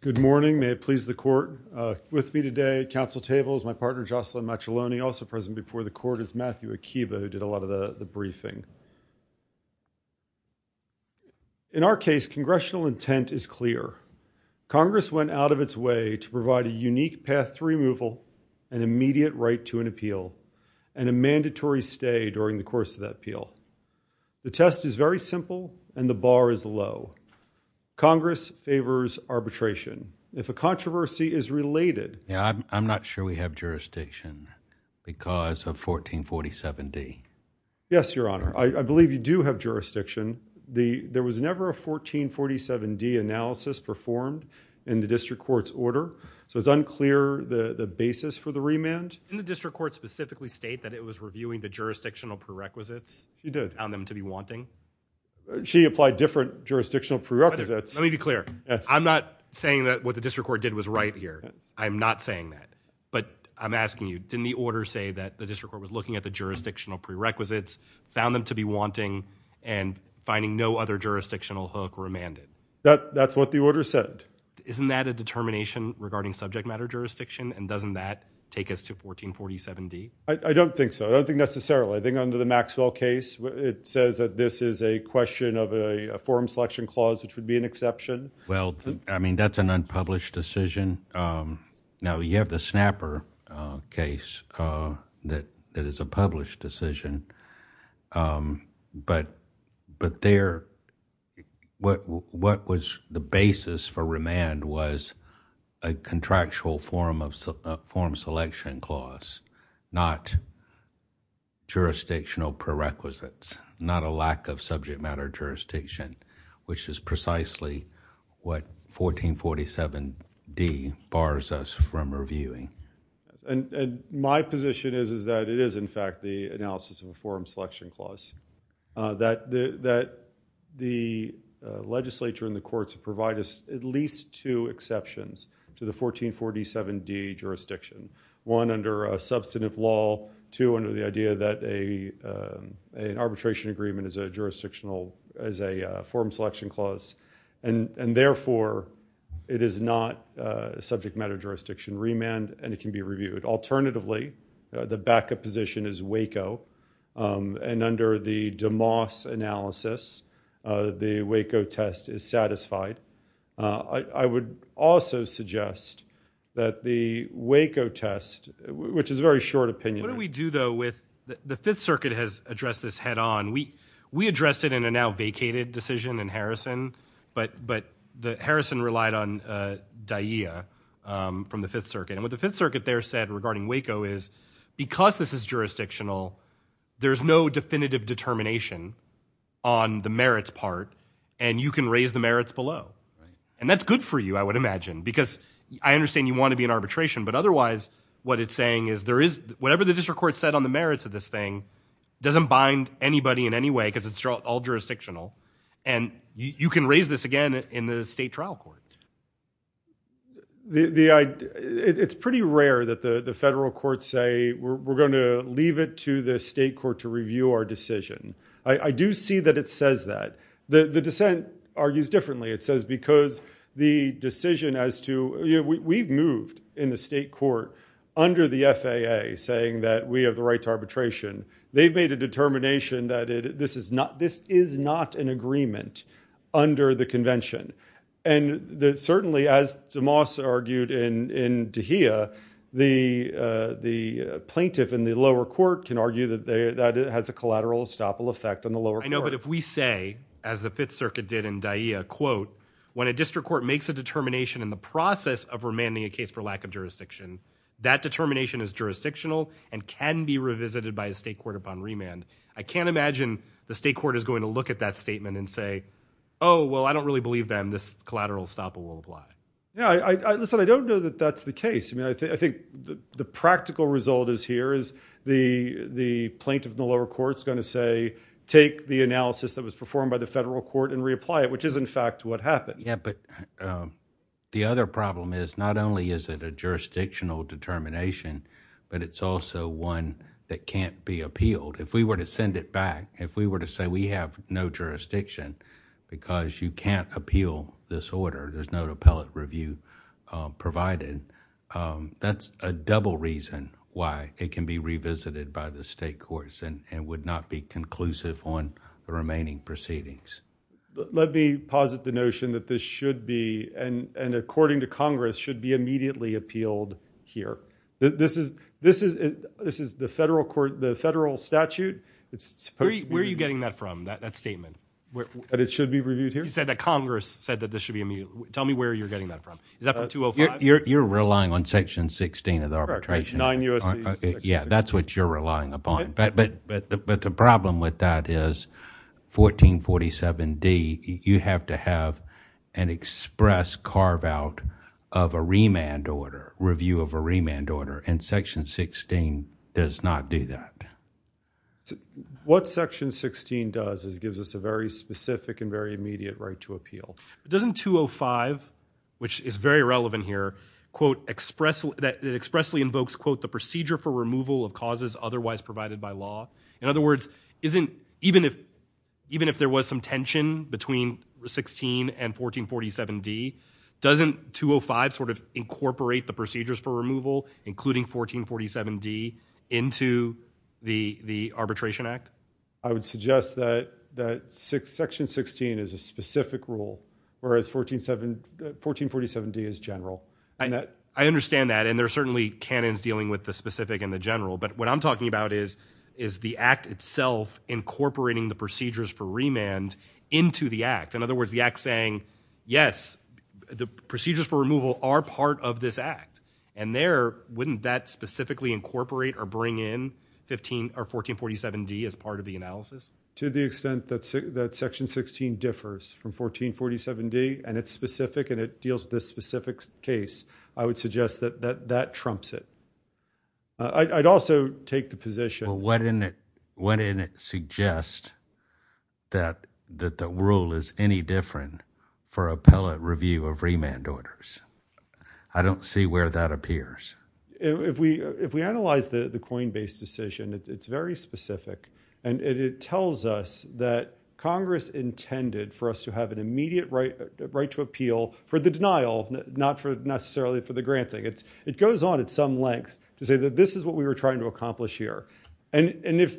Good morning, may it please the court. With me today at council table is my partner Jocelyn Mazzoloni, also present before the court is Matthew Akiba, who did a lot of the briefing. In our case, congressional intent is clear. Congress went out of its way to provide a unique path to removal, an immediate right to an appeal, and a mandatory stay during the course of that appeal. The test is very simple and the bar is low. Congress favors arbitration. If a controversy is related. I'm not sure we have jurisdiction because of 1447 D. Yes, your honor. I believe you do have jurisdiction. There was never a 1447 D analysis performed in the district court's order. So it's unclear the basis for the remand. Didn't the district court specifically state that it was reviewing the jurisdictional prerequisites on them to be wanting? She applied different jurisdictional prerequisites. Let me be clear. I'm not saying that what the district court did was right here. I'm not saying that. But I'm asking you, didn't the order say that the district court was looking at the jurisdictional prerequisites, found them to be wanting, and finding no other jurisdictional hook remanded? That's what the order said. Isn't that a determination regarding subject matter jurisdiction? And doesn't that take us to 1447 D? I don't think so. I don't think necessarily. I think under the Maxwell case, it says that this is a question of a forum selection clause which would be an exception. Well, I mean, that's an unpublished decision. Now, you have the Snapper case that is a published decision, but there, what was the basis for remand was a contractual forum selection clause, not jurisdictional prerequisites, not a lack of subject matter jurisdiction, which is precisely what 1447 D bars us from reviewing. My position is that it is, in fact, the analysis of a forum selection clause. That the legislature and the courts provide us at least two exceptions to the 1447 D jurisdiction, one under a substantive law, two under the idea that an arbitration agreement is a forum selection clause, and therefore, it is not subject matter jurisdiction remand and it can be reviewed. Alternatively, the backup position is WACO, and under the DeMoss analysis, the WACO test is satisfied. I would also suggest that the WACO test, which is a very short opinion. What do we do, though, with the Fifth Circuit has addressed this head on. We addressed it in a now vacated decision in Harrison, but Harrison relied on DAIA from the Fifth Circuit. And what the Fifth Circuit there said regarding WACO is because this is jurisdictional, there's no definitive determination on the merits part, and you can raise the merits below. And that's good for you, I would imagine, because I understand you want to be in arbitration, but otherwise, what it's saying is there is whatever the district court said on the merits of this thing doesn't bind anybody in any way because it's all jurisdictional. And you can raise this again in the state trial court. It's pretty rare that the federal courts say we're going to leave it to the state court to review our decision. I do see that it says that. The dissent argues differently. It says because the decision as to, you know, we've moved in the state court under the FAA saying that we have the right to arbitration. They've made a determination that this is not an agreement under the convention. And certainly, as DeMoss argued in Dehia, the plaintiff in the lower court can argue that that has a collateral estoppel effect on the lower court. I know, but if we say, as the Fifth Circuit did in Dehia, quote, when a district court makes a determination in the process of remanding a case for lack of jurisdiction, that determination is jurisdictional and can be revisited by a state court upon remand. I can't imagine the state court is going to look at that statement and say, oh, well, I don't really believe, then, this collateral estoppel will apply. Yeah, listen, I don't know that that's the case. I mean, I think the practical result is here is the plaintiff in the lower court is going to say, take the analysis that was performed by the federal court and reapply it, which is, in fact, what happened. Yeah, but the other problem is not only is it a jurisdictional determination, but it's also one that can't be appealed. If we were to send it back, if we were to say we have no jurisdiction because you can't appeal this order, there's no appellate review provided, that's a double reason why it can be revisited by the state courts and would not be conclusive on the remaining proceedings. Let me posit the notion that this should be, and according to Congress, should be immediately appealed here. This is the federal statute. Where are you getting that from, that statement? That it should be reviewed here? You said that Congress said that this should be immediately, tell me where you're getting that from. Is that from 205? You're relying on section 16 of the arbitration. Correct, 9 U.S.C. Yeah, that's what you're relying upon. But the problem with that is 1447D, you have to have an express carve out of a remand order, review of a remand order, and section 16 does not do that. What section 16 does is gives us a very specific and very immediate right to appeal. Doesn't 205, which is very relevant here, that expressly invokes the procedure for removal of causes otherwise provided by law? In other words, even if there was some tension between 16 and 1447D, doesn't 205 sort of incorporate the procedures for removal, including 1447D, into the arbitration act? I would suggest that section 16 is a specific rule, whereas 1447D is general. I understand that, and there are certainly canons dealing with the specific and the general, but what I'm talking about is the act itself incorporating the procedures for remand into the act. In other words, the act saying, yes, the procedures for removal are part of this act. And there, wouldn't that specifically incorporate or bring in 1447D as part of the analysis? To the extent that section 16 differs from 1447D, and it's specific and it deals with this specific case, I would suggest that that trumps it. I'd also take the position- But wouldn't it suggest that the rule is any different for appellate review of remand orders? I don't see where that appears. If we analyze the coin-based decision, it's very specific, and it tells us that Congress intended for us to have an immediate right to appeal for the denial, not necessarily for the granting. It goes on at some length to say that this is what we were trying to accomplish here. And if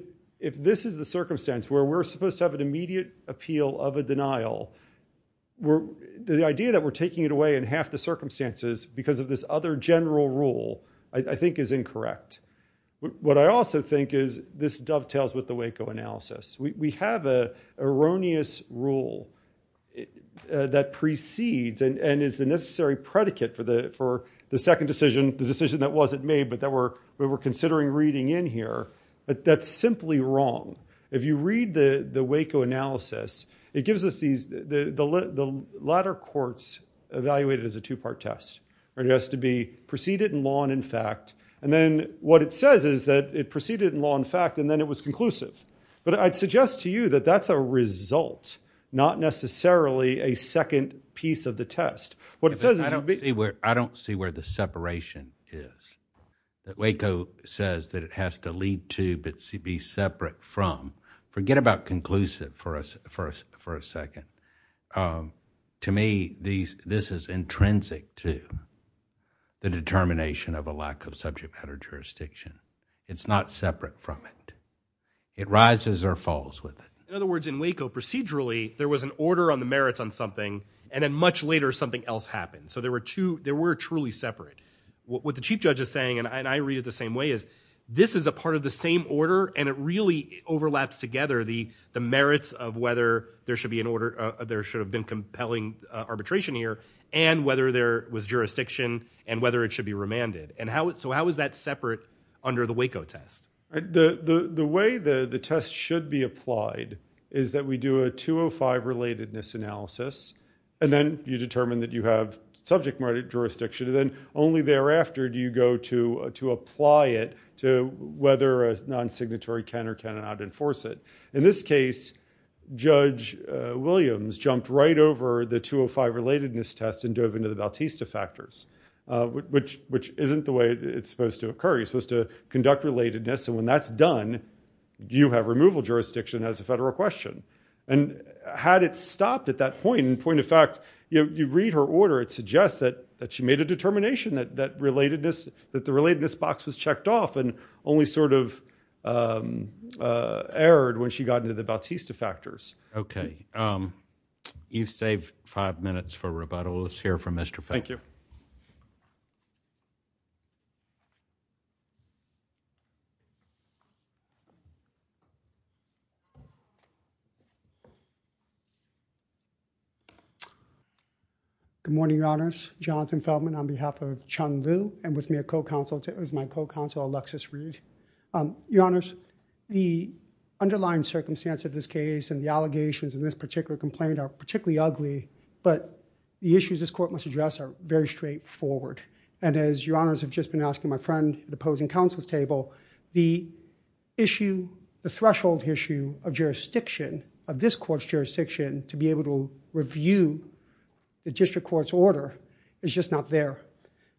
this is the circumstance where we're supposed to have an immediate appeal of a denial, the idea that we're taking it away in half the circumstances because of this other general rule, I think is incorrect. What I also think is this dovetails with the Waco analysis. We have an erroneous rule that precedes and is the necessary predicate for the second decision, the decision that wasn't made, but that we're considering reading in here. That's simply wrong. If you read the Waco analysis, it gives us these- the latter courts evaluate it as a two-part test. It has to be preceded in law and in fact, and then what it says is that it preceded in law and in fact, and then it was conclusive. But I'd suggest to you that that's a result, not necessarily a second piece of the test. What it says is- I don't see where the separation is, that Waco says that it has to lead to, but be separate from. Forget about conclusive for a second. To me, this is intrinsic to the determination of a lack of subject matter jurisdiction. It's not separate from it. It rises or falls with it. In other words, in Waco, procedurally, there was an order on the merits on something and then much later, something else happened. So there were two- there were truly separate. What the chief judge is saying, and I read it the same way, is this is a part of the same order and it really overlaps together the merits of whether there should be an order, there should have been compelling arbitration here, and whether there was jurisdiction and whether it should be remanded. So how is that separate under the Waco test? The way the test should be applied is that we do a 205 relatedness analysis, and then you determine that you have subject matter jurisdiction, and then only thereafter do you go to apply it to whether a non-signatory can or cannot enforce it. In this case, Judge Williams jumped right over the 205 relatedness test and dove into the Bautista factors, which isn't the way it's supposed to occur. You're supposed to conduct relatedness, and when that's done, you have removal jurisdiction as a federal question. And had it stopped at that point, in point of fact, you read her order, it suggests that she made a determination that the relatedness box was checked off and only sort of erred when she got into the Bautista factors. Okay. You've saved five minutes for rebuttal. Let's hear from Mr. Feldman. Thank you. Good morning, Your Honors. Jonathan Feldman on behalf of Chun Liu and with me as my co-counsel Alexis Reed. Your Honors, the underlying circumstance of this case and the allegations in this particular complaint are particularly ugly, but the issues this court must address are very straightforward. And as Your Honors have just been asking my friend at the opposing counsel's table, the issue, the threshold issue of jurisdiction, of this court's jurisdiction to be able to review the district court's order is just not there.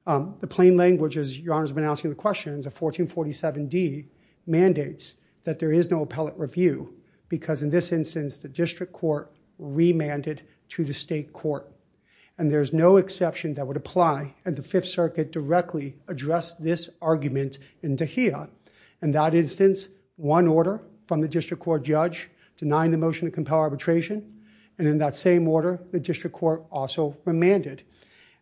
The plain language, as Your Honors have been asking the questions, of 1447D mandates that there is no appellate review because in this instance, the district court remanded to the state court. And there's no exception that would apply and the Fifth Circuit directly addressed this argument in Tejeda. In that instance, one order from the district court judge denying the motion to compel arbitration and in that same order, the district court also remanded.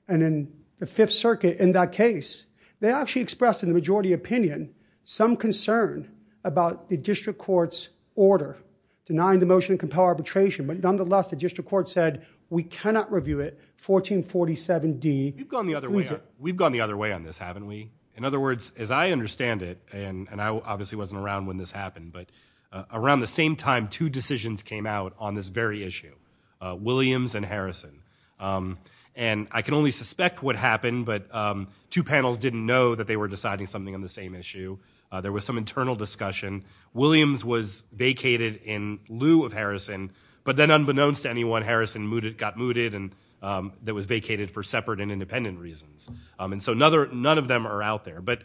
And in the Fifth Circuit, in that case, they actually expressed in the majority opinion some concern about the district court's order denying the motion to compel arbitration, but nonetheless, the district court said, we cannot review it, 1447D. We've gone the other way on this, haven't we? In other words, as I understand it, and I obviously wasn't around when this happened, but around the same time, two decisions came out on this very issue, Williams and Harrison. And I can only suspect what happened, but two panels didn't know that they were deciding something on the same issue. There was some internal discussion. Williams was vacated in lieu of Harrison, but then unbeknownst to anyone, Harrison got mooted and that was vacated for separate and independent reasons. And so none of them are out there, but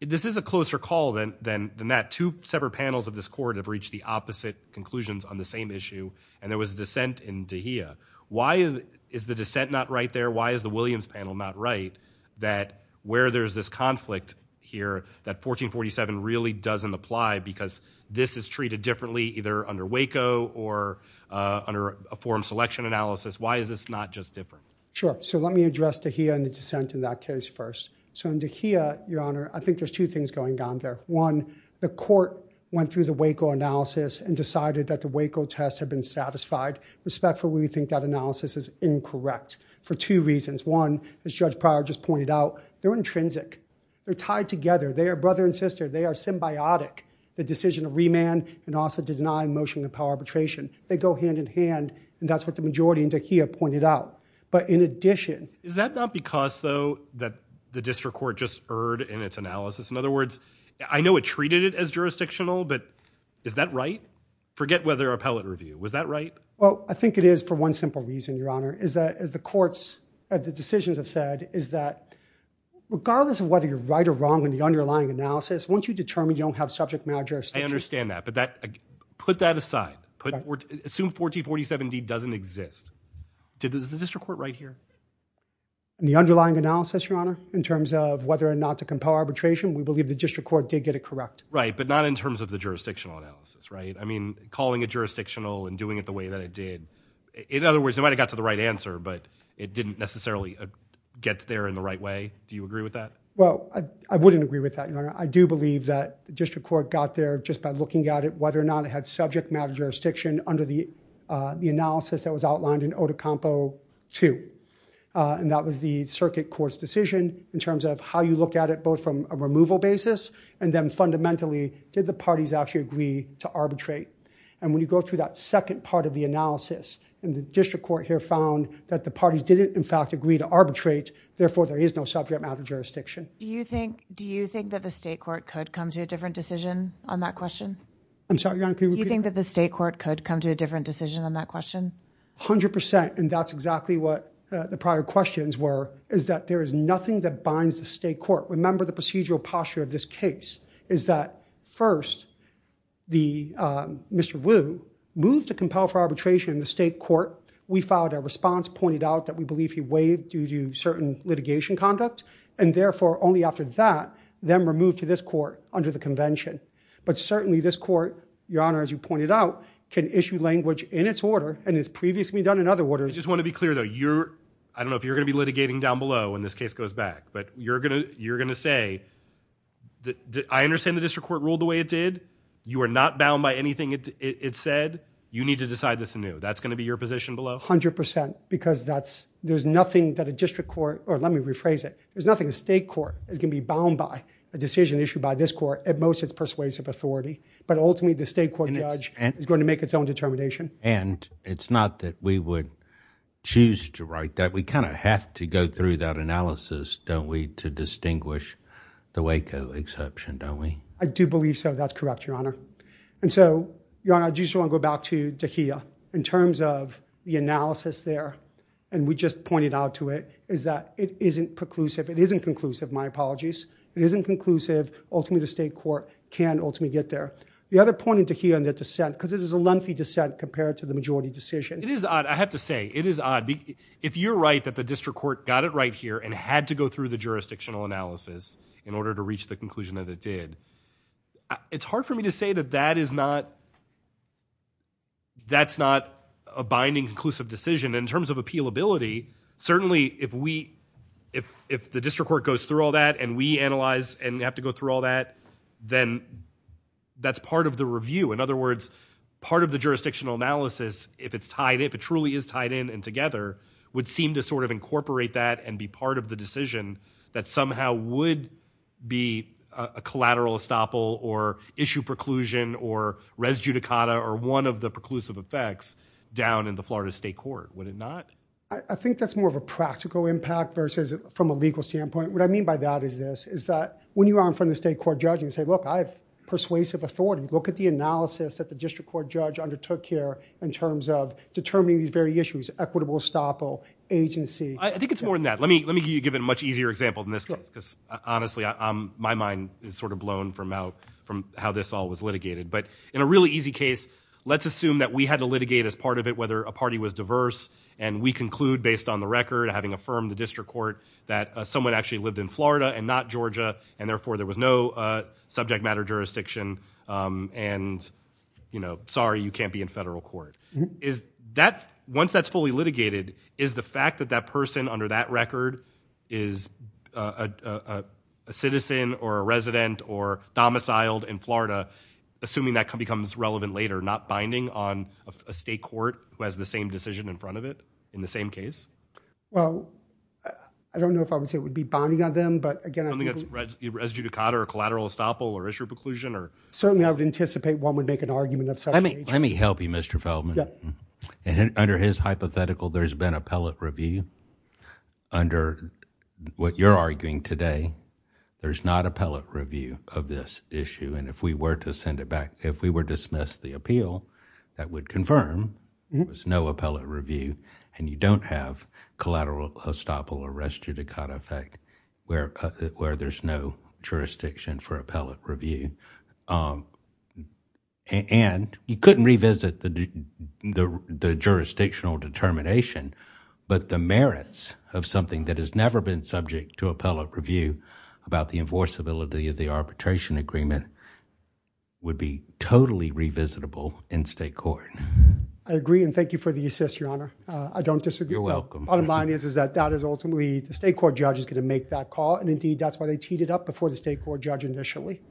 this is a closer call than that. Two separate panels of this court have reached the opposite conclusions on the same issue and there was dissent in Tejeda. Why is the dissent not right there? Why is the Williams panel not right that where there's this conflict here, that 1447 really doesn't apply because this is treated differently either under Waco or under a forum selection analysis. Why is this not just different? Sure. So let me address Tejeda and the dissent in that case first. So in Tejeda, your honor, I think there's two things going on there. One, the court went through the Waco analysis and decided that the Waco test had been satisfied. Respectfully, we think that analysis is incorrect for two reasons. One, as Judge Pryor just pointed out, they're intrinsic. They're tied together. They are brother and sister. They are symbiotic. The decision to remand and also to deny motion to power arbitration. They go hand in hand and that's what the majority in Tejeda pointed out. But in addition- Is that not because though that the district court just erred in its analysis? In other words, I know it treated it as jurisdictional, but is that right? Forget whether appellate review. Was that right? Well, I think it is for one simple reason, your honor, is that as the courts at the decisions have said, is that regardless of whether you're right or wrong in the underlying analysis, once you determine you don't have subject matter jurisdiction- I understand that, but put that aside. Assume 1447D doesn't exist, does the district court write here? The underlying analysis, your honor, in terms of whether or not to compel arbitration, we believe the district court did get it correct. Right, but not in terms of the jurisdictional analysis, right? I mean, calling it jurisdictional and doing it the way that it did. In other words, it might have got to the right answer, but it didn't necessarily get there in the right way. Do you agree with that? Well, I wouldn't agree with that, your honor. I do believe that the district court got there just by looking at it, whether or not it had subject matter jurisdiction under the analysis that was outlined in Otocompo 2. And that was the circuit court's decision in terms of how you look at it, both from a removal basis, and then fundamentally, did the parties actually agree to arbitrate? And when you go through that second part of the analysis, and the district court here found that the parties didn't, in fact, agree to arbitrate, therefore, there is no subject matter jurisdiction. Do you think that the state court could come to a different decision on that question? I'm sorry, your honor, can you repeat that? Do you think that the state court could come to a different decision on that question? 100%, and that's exactly what the prior questions were, is that there is nothing that binds the state court. Remember the procedural posture of this case, is that first, Mr. Wu moved to compel for arbitration in the state court. We filed a response, pointed out that we believe he waived due to certain litigation conduct, and therefore, only after that, them were moved to this court under the convention. But certainly, this court, your honor, as you pointed out, can issue language in its order and has previously done in other orders. I just want to be clear, though. I don't know if you're going to be litigating down below when this case goes back, but you're going to say, I understand the district court ruled the way it did. You are not bound by anything it said. You need to decide this anew. That's going to be your position below? 100%, because there's nothing that a district court, or let me rephrase it, there's nothing the state court is going to be bound by, a decision issued by this court, at most it's persuasive authority, but ultimately the state court judge is going to make its own determination. It's not that we would choose to write that. We kind of have to go through that analysis, don't we, to distinguish the Waco exception, don't we? I do believe so. That's correct, your honor. And so, your honor, I just want to go back to De Gea, in terms of the analysis there, and we just pointed out to it, is that it isn't preclusive. It isn't conclusive. My apologies. It isn't conclusive. Ultimately, the state court can ultimately get there. The other point in De Gea and the dissent, because it is a lengthy dissent compared to the majority decision. It is odd. I have to say, it is odd. If you're right that the district court got it right here and had to go through the jurisdictional analysis in order to reach the conclusion that it did, it's hard for me to say that that is not, that's not a binding conclusive decision. In terms of appealability, certainly if we, if the district court goes through all that and we analyze and have to go through all that, then that's part of the review. In other words, part of the jurisdictional analysis, if it's tied, if it truly is tied in and together, would seem to sort of incorporate that and be part of the decision that somehow would be a collateral estoppel or issue preclusion or res judicata or one of the preclusive effects down in the Florida state court, would it not? I think that's more of a practical impact versus from a legal standpoint. What I mean by that is this, is that when you are in front of the state court judge and you say, look, I have persuasive authority, look at the analysis that the district court judge undertook here in terms of determining these very issues, equitable estoppel, agency. I think it's more than that. Let me give you a much easier example in this case because honestly, my mind is sort of blown from how this all was litigated. But in a really easy case, let's assume that we had to litigate as part of it whether a party was diverse and we conclude based on the record, having affirmed the district court that someone actually lived in Florida and not Georgia and therefore there was no subject matter jurisdiction and sorry, you can't be in federal court. Once that's fully litigated, is the fact that that person under that record is a citizen or a resident or domiciled in Florida, assuming that becomes relevant later, not binding on a state court who has the same decision in front of it in the same case? Well, I don't know if I would say it would be bonding on them, but again, I think that's res judicata or collateral estoppel or issue preclusion or Certainly I would anticipate one would make an argument of such nature. Let me help you, Mr. Feldman. Under his hypothetical, there's been appellate review. Under what you're arguing today, there's not appellate review of this issue. And if we were to send it back, if we were dismissed the appeal, that would confirm there was no appellate review and you don't have collateral estoppel or res judicata effect where there's no jurisdiction for appellate review. And you couldn't revisit the jurisdictional determination, but the merits of something that has never been subject to appellate review about the enforceability of the arbitration agreement would be totally revisitable in state court. I agree and thank you for the assist, Your Honor. I don't disagree. Bottom line is that that is ultimately the state court judge is going to make that call and indeed that's why they teed it up before the state court judge initially.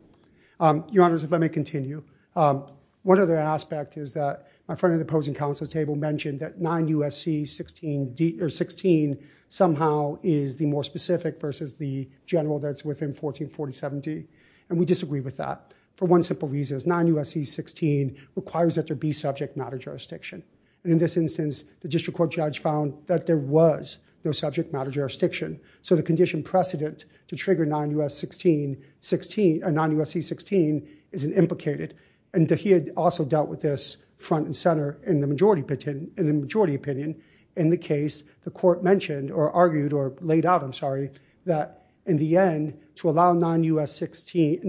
Your Honor, if I may continue, one other aspect is that my friend at the opposing counsel's table mentioned that 9 U.S.C. 16 somehow is the more specific versus the general that's within 144070, and we disagree with that for one simple reason, it's 9 U.S.C. 16 requires that there be subject matter jurisdiction. And in this instance, the district court judge found that there was no subject matter jurisdiction. So the condition precedent to trigger 9 U.S.C. 16 is implicated and he also dealt with this front and center in the majority opinion in the case the court mentioned or argued or laid out, I'm sorry, that in the end to allow 9 U.S.C.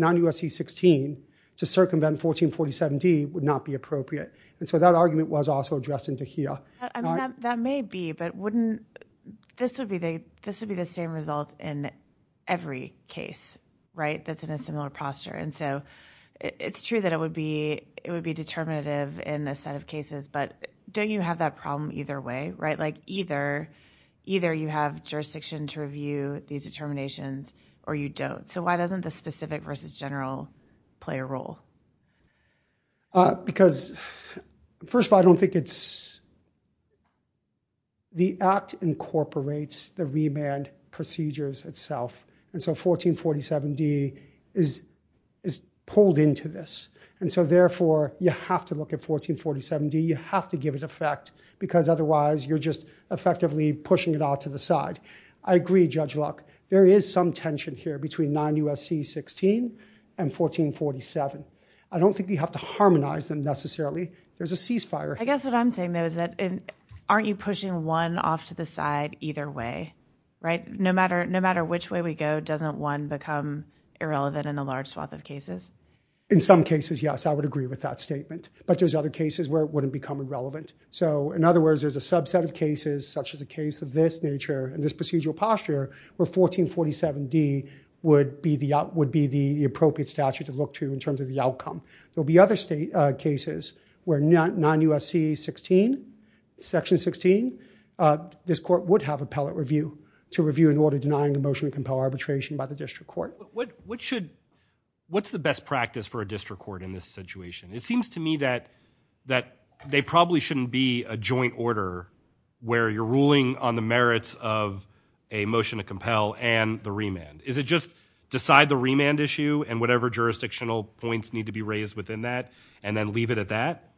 16 to circumvent 144070 would not be appropriate. And so that argument was also addressed in Tahirah. That may be, but wouldn't, this would be the same result in every case, right, that's in a similar posture. And so it's true that it would be determinative in a set of cases, but don't you have that problem either way, right, like either you have jurisdiction to review these determinations or you don't. So why doesn't the specific versus general play a role? Because first of all, I don't think it's, the act incorporates the remand procedures itself. And so 144070 is pulled into this. And so therefore, you have to look at 144070, you have to give it effect because otherwise you're just effectively pushing it out to the side. I agree, Judge Luck, there is some tension here between 9 U.S.C. 16 and 144070. I don't think you have to harmonize them necessarily. There's a ceasefire. I guess what I'm saying though is that aren't you pushing one off to the side either way, right? No matter which way we go, doesn't one become irrelevant in a large swath of cases? In some cases, yes, I would agree with that statement. But there's other cases where it wouldn't become irrelevant. So in other words, there's a subset of cases such as a case of this nature and this procedural 144070 would be the appropriate statute to look to in terms of the outcome. There'll be other cases where 9 U.S.C. 16, Section 16, this court would have appellate review to review an order denying a motion to compel arbitration by the district court. What's the best practice for a district court in this situation? It seems to me that they probably shouldn't be a joint order where you're ruling on the remand. Is it just decide the remand issue and whatever jurisdictional points need to be raised within that and then leave it at that?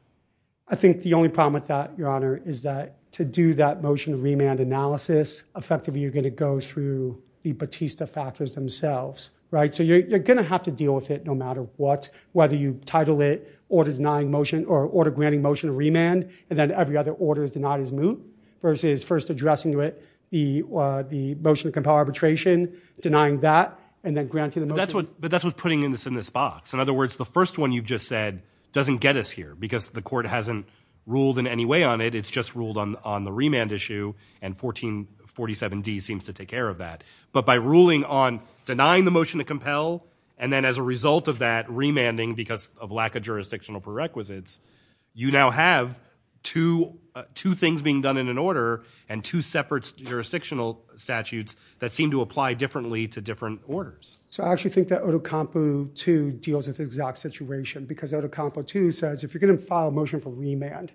I think the only problem with that, Your Honor, is that to do that motion of remand analysis effectively you're going to go through the Batista factors themselves, right? So you're going to have to deal with it no matter what, whether you title it order denying motion or order granting motion of remand and then every other order is denied as moot versus first addressing to it the motion to compel arbitration, denying that, and then granting the motion. But that's what's putting this in this box. In other words, the first one you just said doesn't get us here because the court hasn't ruled in any way on it. It's just ruled on the remand issue and 1447D seems to take care of that. But by ruling on denying the motion to compel and then as a result of that remanding because of lack of jurisdictional prerequisites, you now have two things being done in an order and two separate jurisdictional statutes that seem to apply differently to different orders. So I actually think that Otokampu 2 deals with the exact situation because Otokampu 2 says if you're going to file a motion for remand,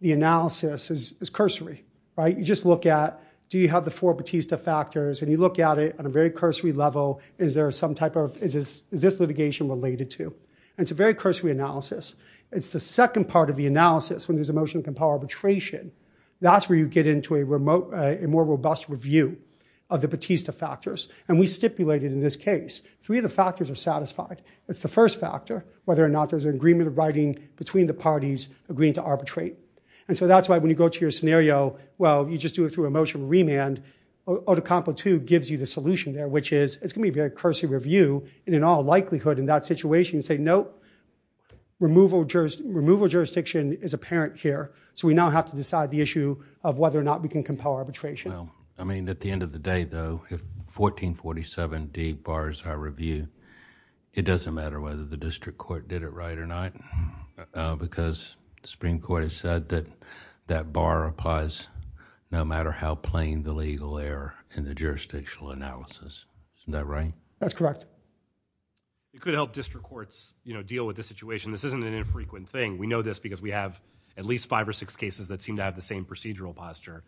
the analysis is cursory, right? You just look at do you have the four Batista factors and you look at it on a very cursory level is there some type of, is this litigation related to? And it's a very cursory analysis. It's the second part of the analysis when there's a motion to compel arbitration. That's where you get into a remote, a more robust review of the Batista factors. And we stipulated in this case three of the factors are satisfied. It's the first factor, whether or not there's an agreement of writing between the parties agreeing to arbitrate. And so that's why when you go to your scenario, well, you just do it through a motion of remand. Otokampu 2 gives you the solution there, which is it's going to be a very cursory review and in all likelihood in that situation you say, nope, removal jurisdiction is apparent here. So we now have to decide the issue of whether or not we can compel arbitration. I mean, at the end of the day, though, if 1447 D bars our review, it doesn't matter whether the district court did it right or not because the Supreme Court has said that that bar applies no matter how plain the legal error in the jurisdictional analysis, isn't that right? That's correct. It could help district courts, you know, deal with this situation. This isn't an infrequent thing. We know this because we have at least five or six cases that seem to have the same procedural posture.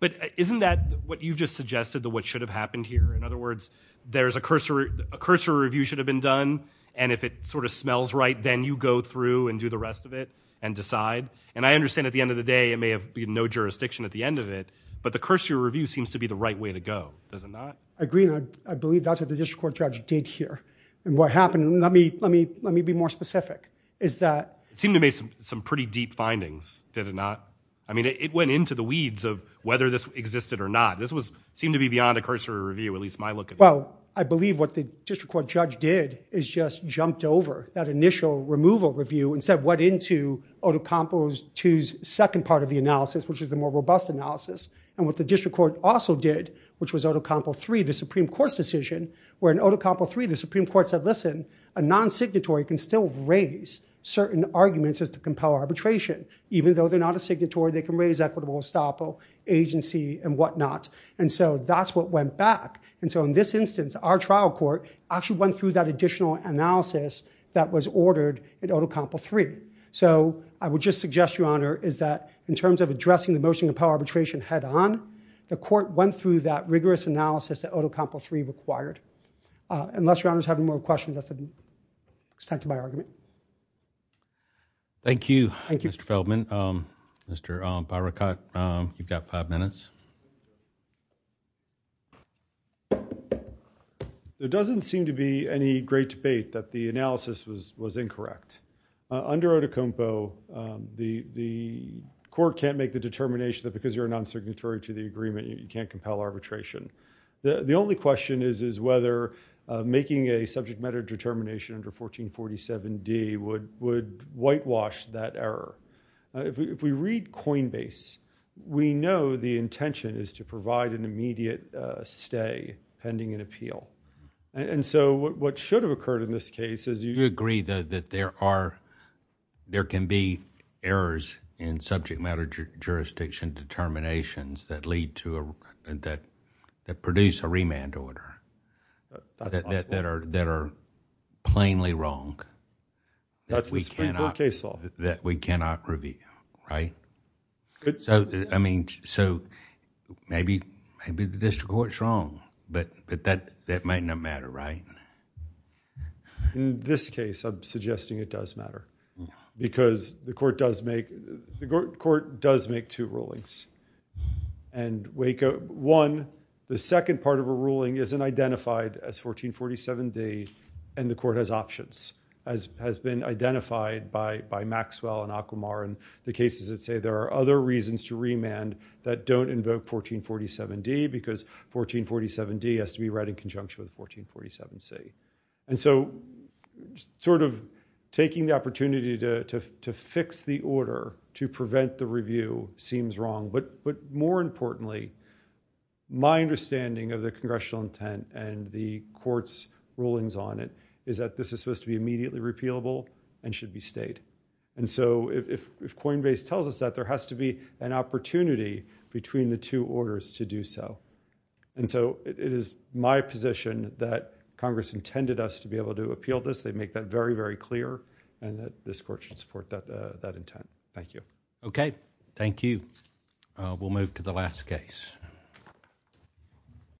But isn't that what you've just suggested that what should have happened here? In other words, there's a cursory, a cursory review should have been done. And if it sort of smells right, then you go through and do the rest of it and decide. And I understand at the end of the day, it may have been no jurisdiction at the end of it, but the cursory review seems to be the right way to go, does it not? I agree. And I believe that's what the district court judge did here and what happened. Let me let me let me be more specific. Is that it seemed to me some pretty deep findings, did it not? I mean, it went into the weeds of whether this existed or not. This was seemed to be beyond a cursory review, at least my look. Well, I believe what the district court judge did is just jumped over that initial removal review and said what into Oto Campos to second part of the analysis, which is the more robust analysis. And what the district court also did, which was Oto Campos three, the Supreme Court's decision were in Oto Campos three, the Supreme Court said, listen, a non-signatory can still raise certain arguments as to compel arbitration, even though they're not a signatory, they can raise equitable estoppel agency and whatnot. And so that's what went back. And so in this instance, our trial court actually went through that additional analysis that was ordered in Oto Campos three. So I would just suggest, Your Honor, is that in terms of addressing the motion to compel arbitration head on, the court went through that rigorous analysis that Oto Campos three required. Unless Your Honor's having more questions, that's the extent of my argument. Thank you. Thank you, Mr. Feldman. Mr. Barakat, you've got five minutes. There doesn't seem to be any great debate that the analysis was incorrect. Under Oto Campos, the court can't make the determination that because you're a non-signatory to the agreement, you can't compel arbitration. The only question is whether making a subject matter determination under 1447D would whitewash that error. If we read Coinbase, we know the intention is to provide an immediate stay pending an And so what should have occurred in this case is... You agree that there can be errors in subject matter jurisdiction determinations that produce a remand order that are plainly wrong that we cannot review, right? So maybe the district court's wrong, but that might not matter, right? In this case, I'm suggesting it does matter because the court does make two rulings. The second part of a ruling isn't identified as 1447D and the court has options, has been that don't invoke 1447D because 1447D has to be read in conjunction with 1447C. And so sort of taking the opportunity to fix the order to prevent the review seems wrong, but more importantly, my understanding of the congressional intent and the court's rulings on it is that this is supposed to be immediately repealable and should be stayed. And so if Coinbase tells us that, there has to be an opportunity between the two orders to do so. And so it is my position that Congress intended us to be able to appeal this. They make that very, very clear and that this court should support that intent. Thank you. Okay. Thank you. We'll move to the last case.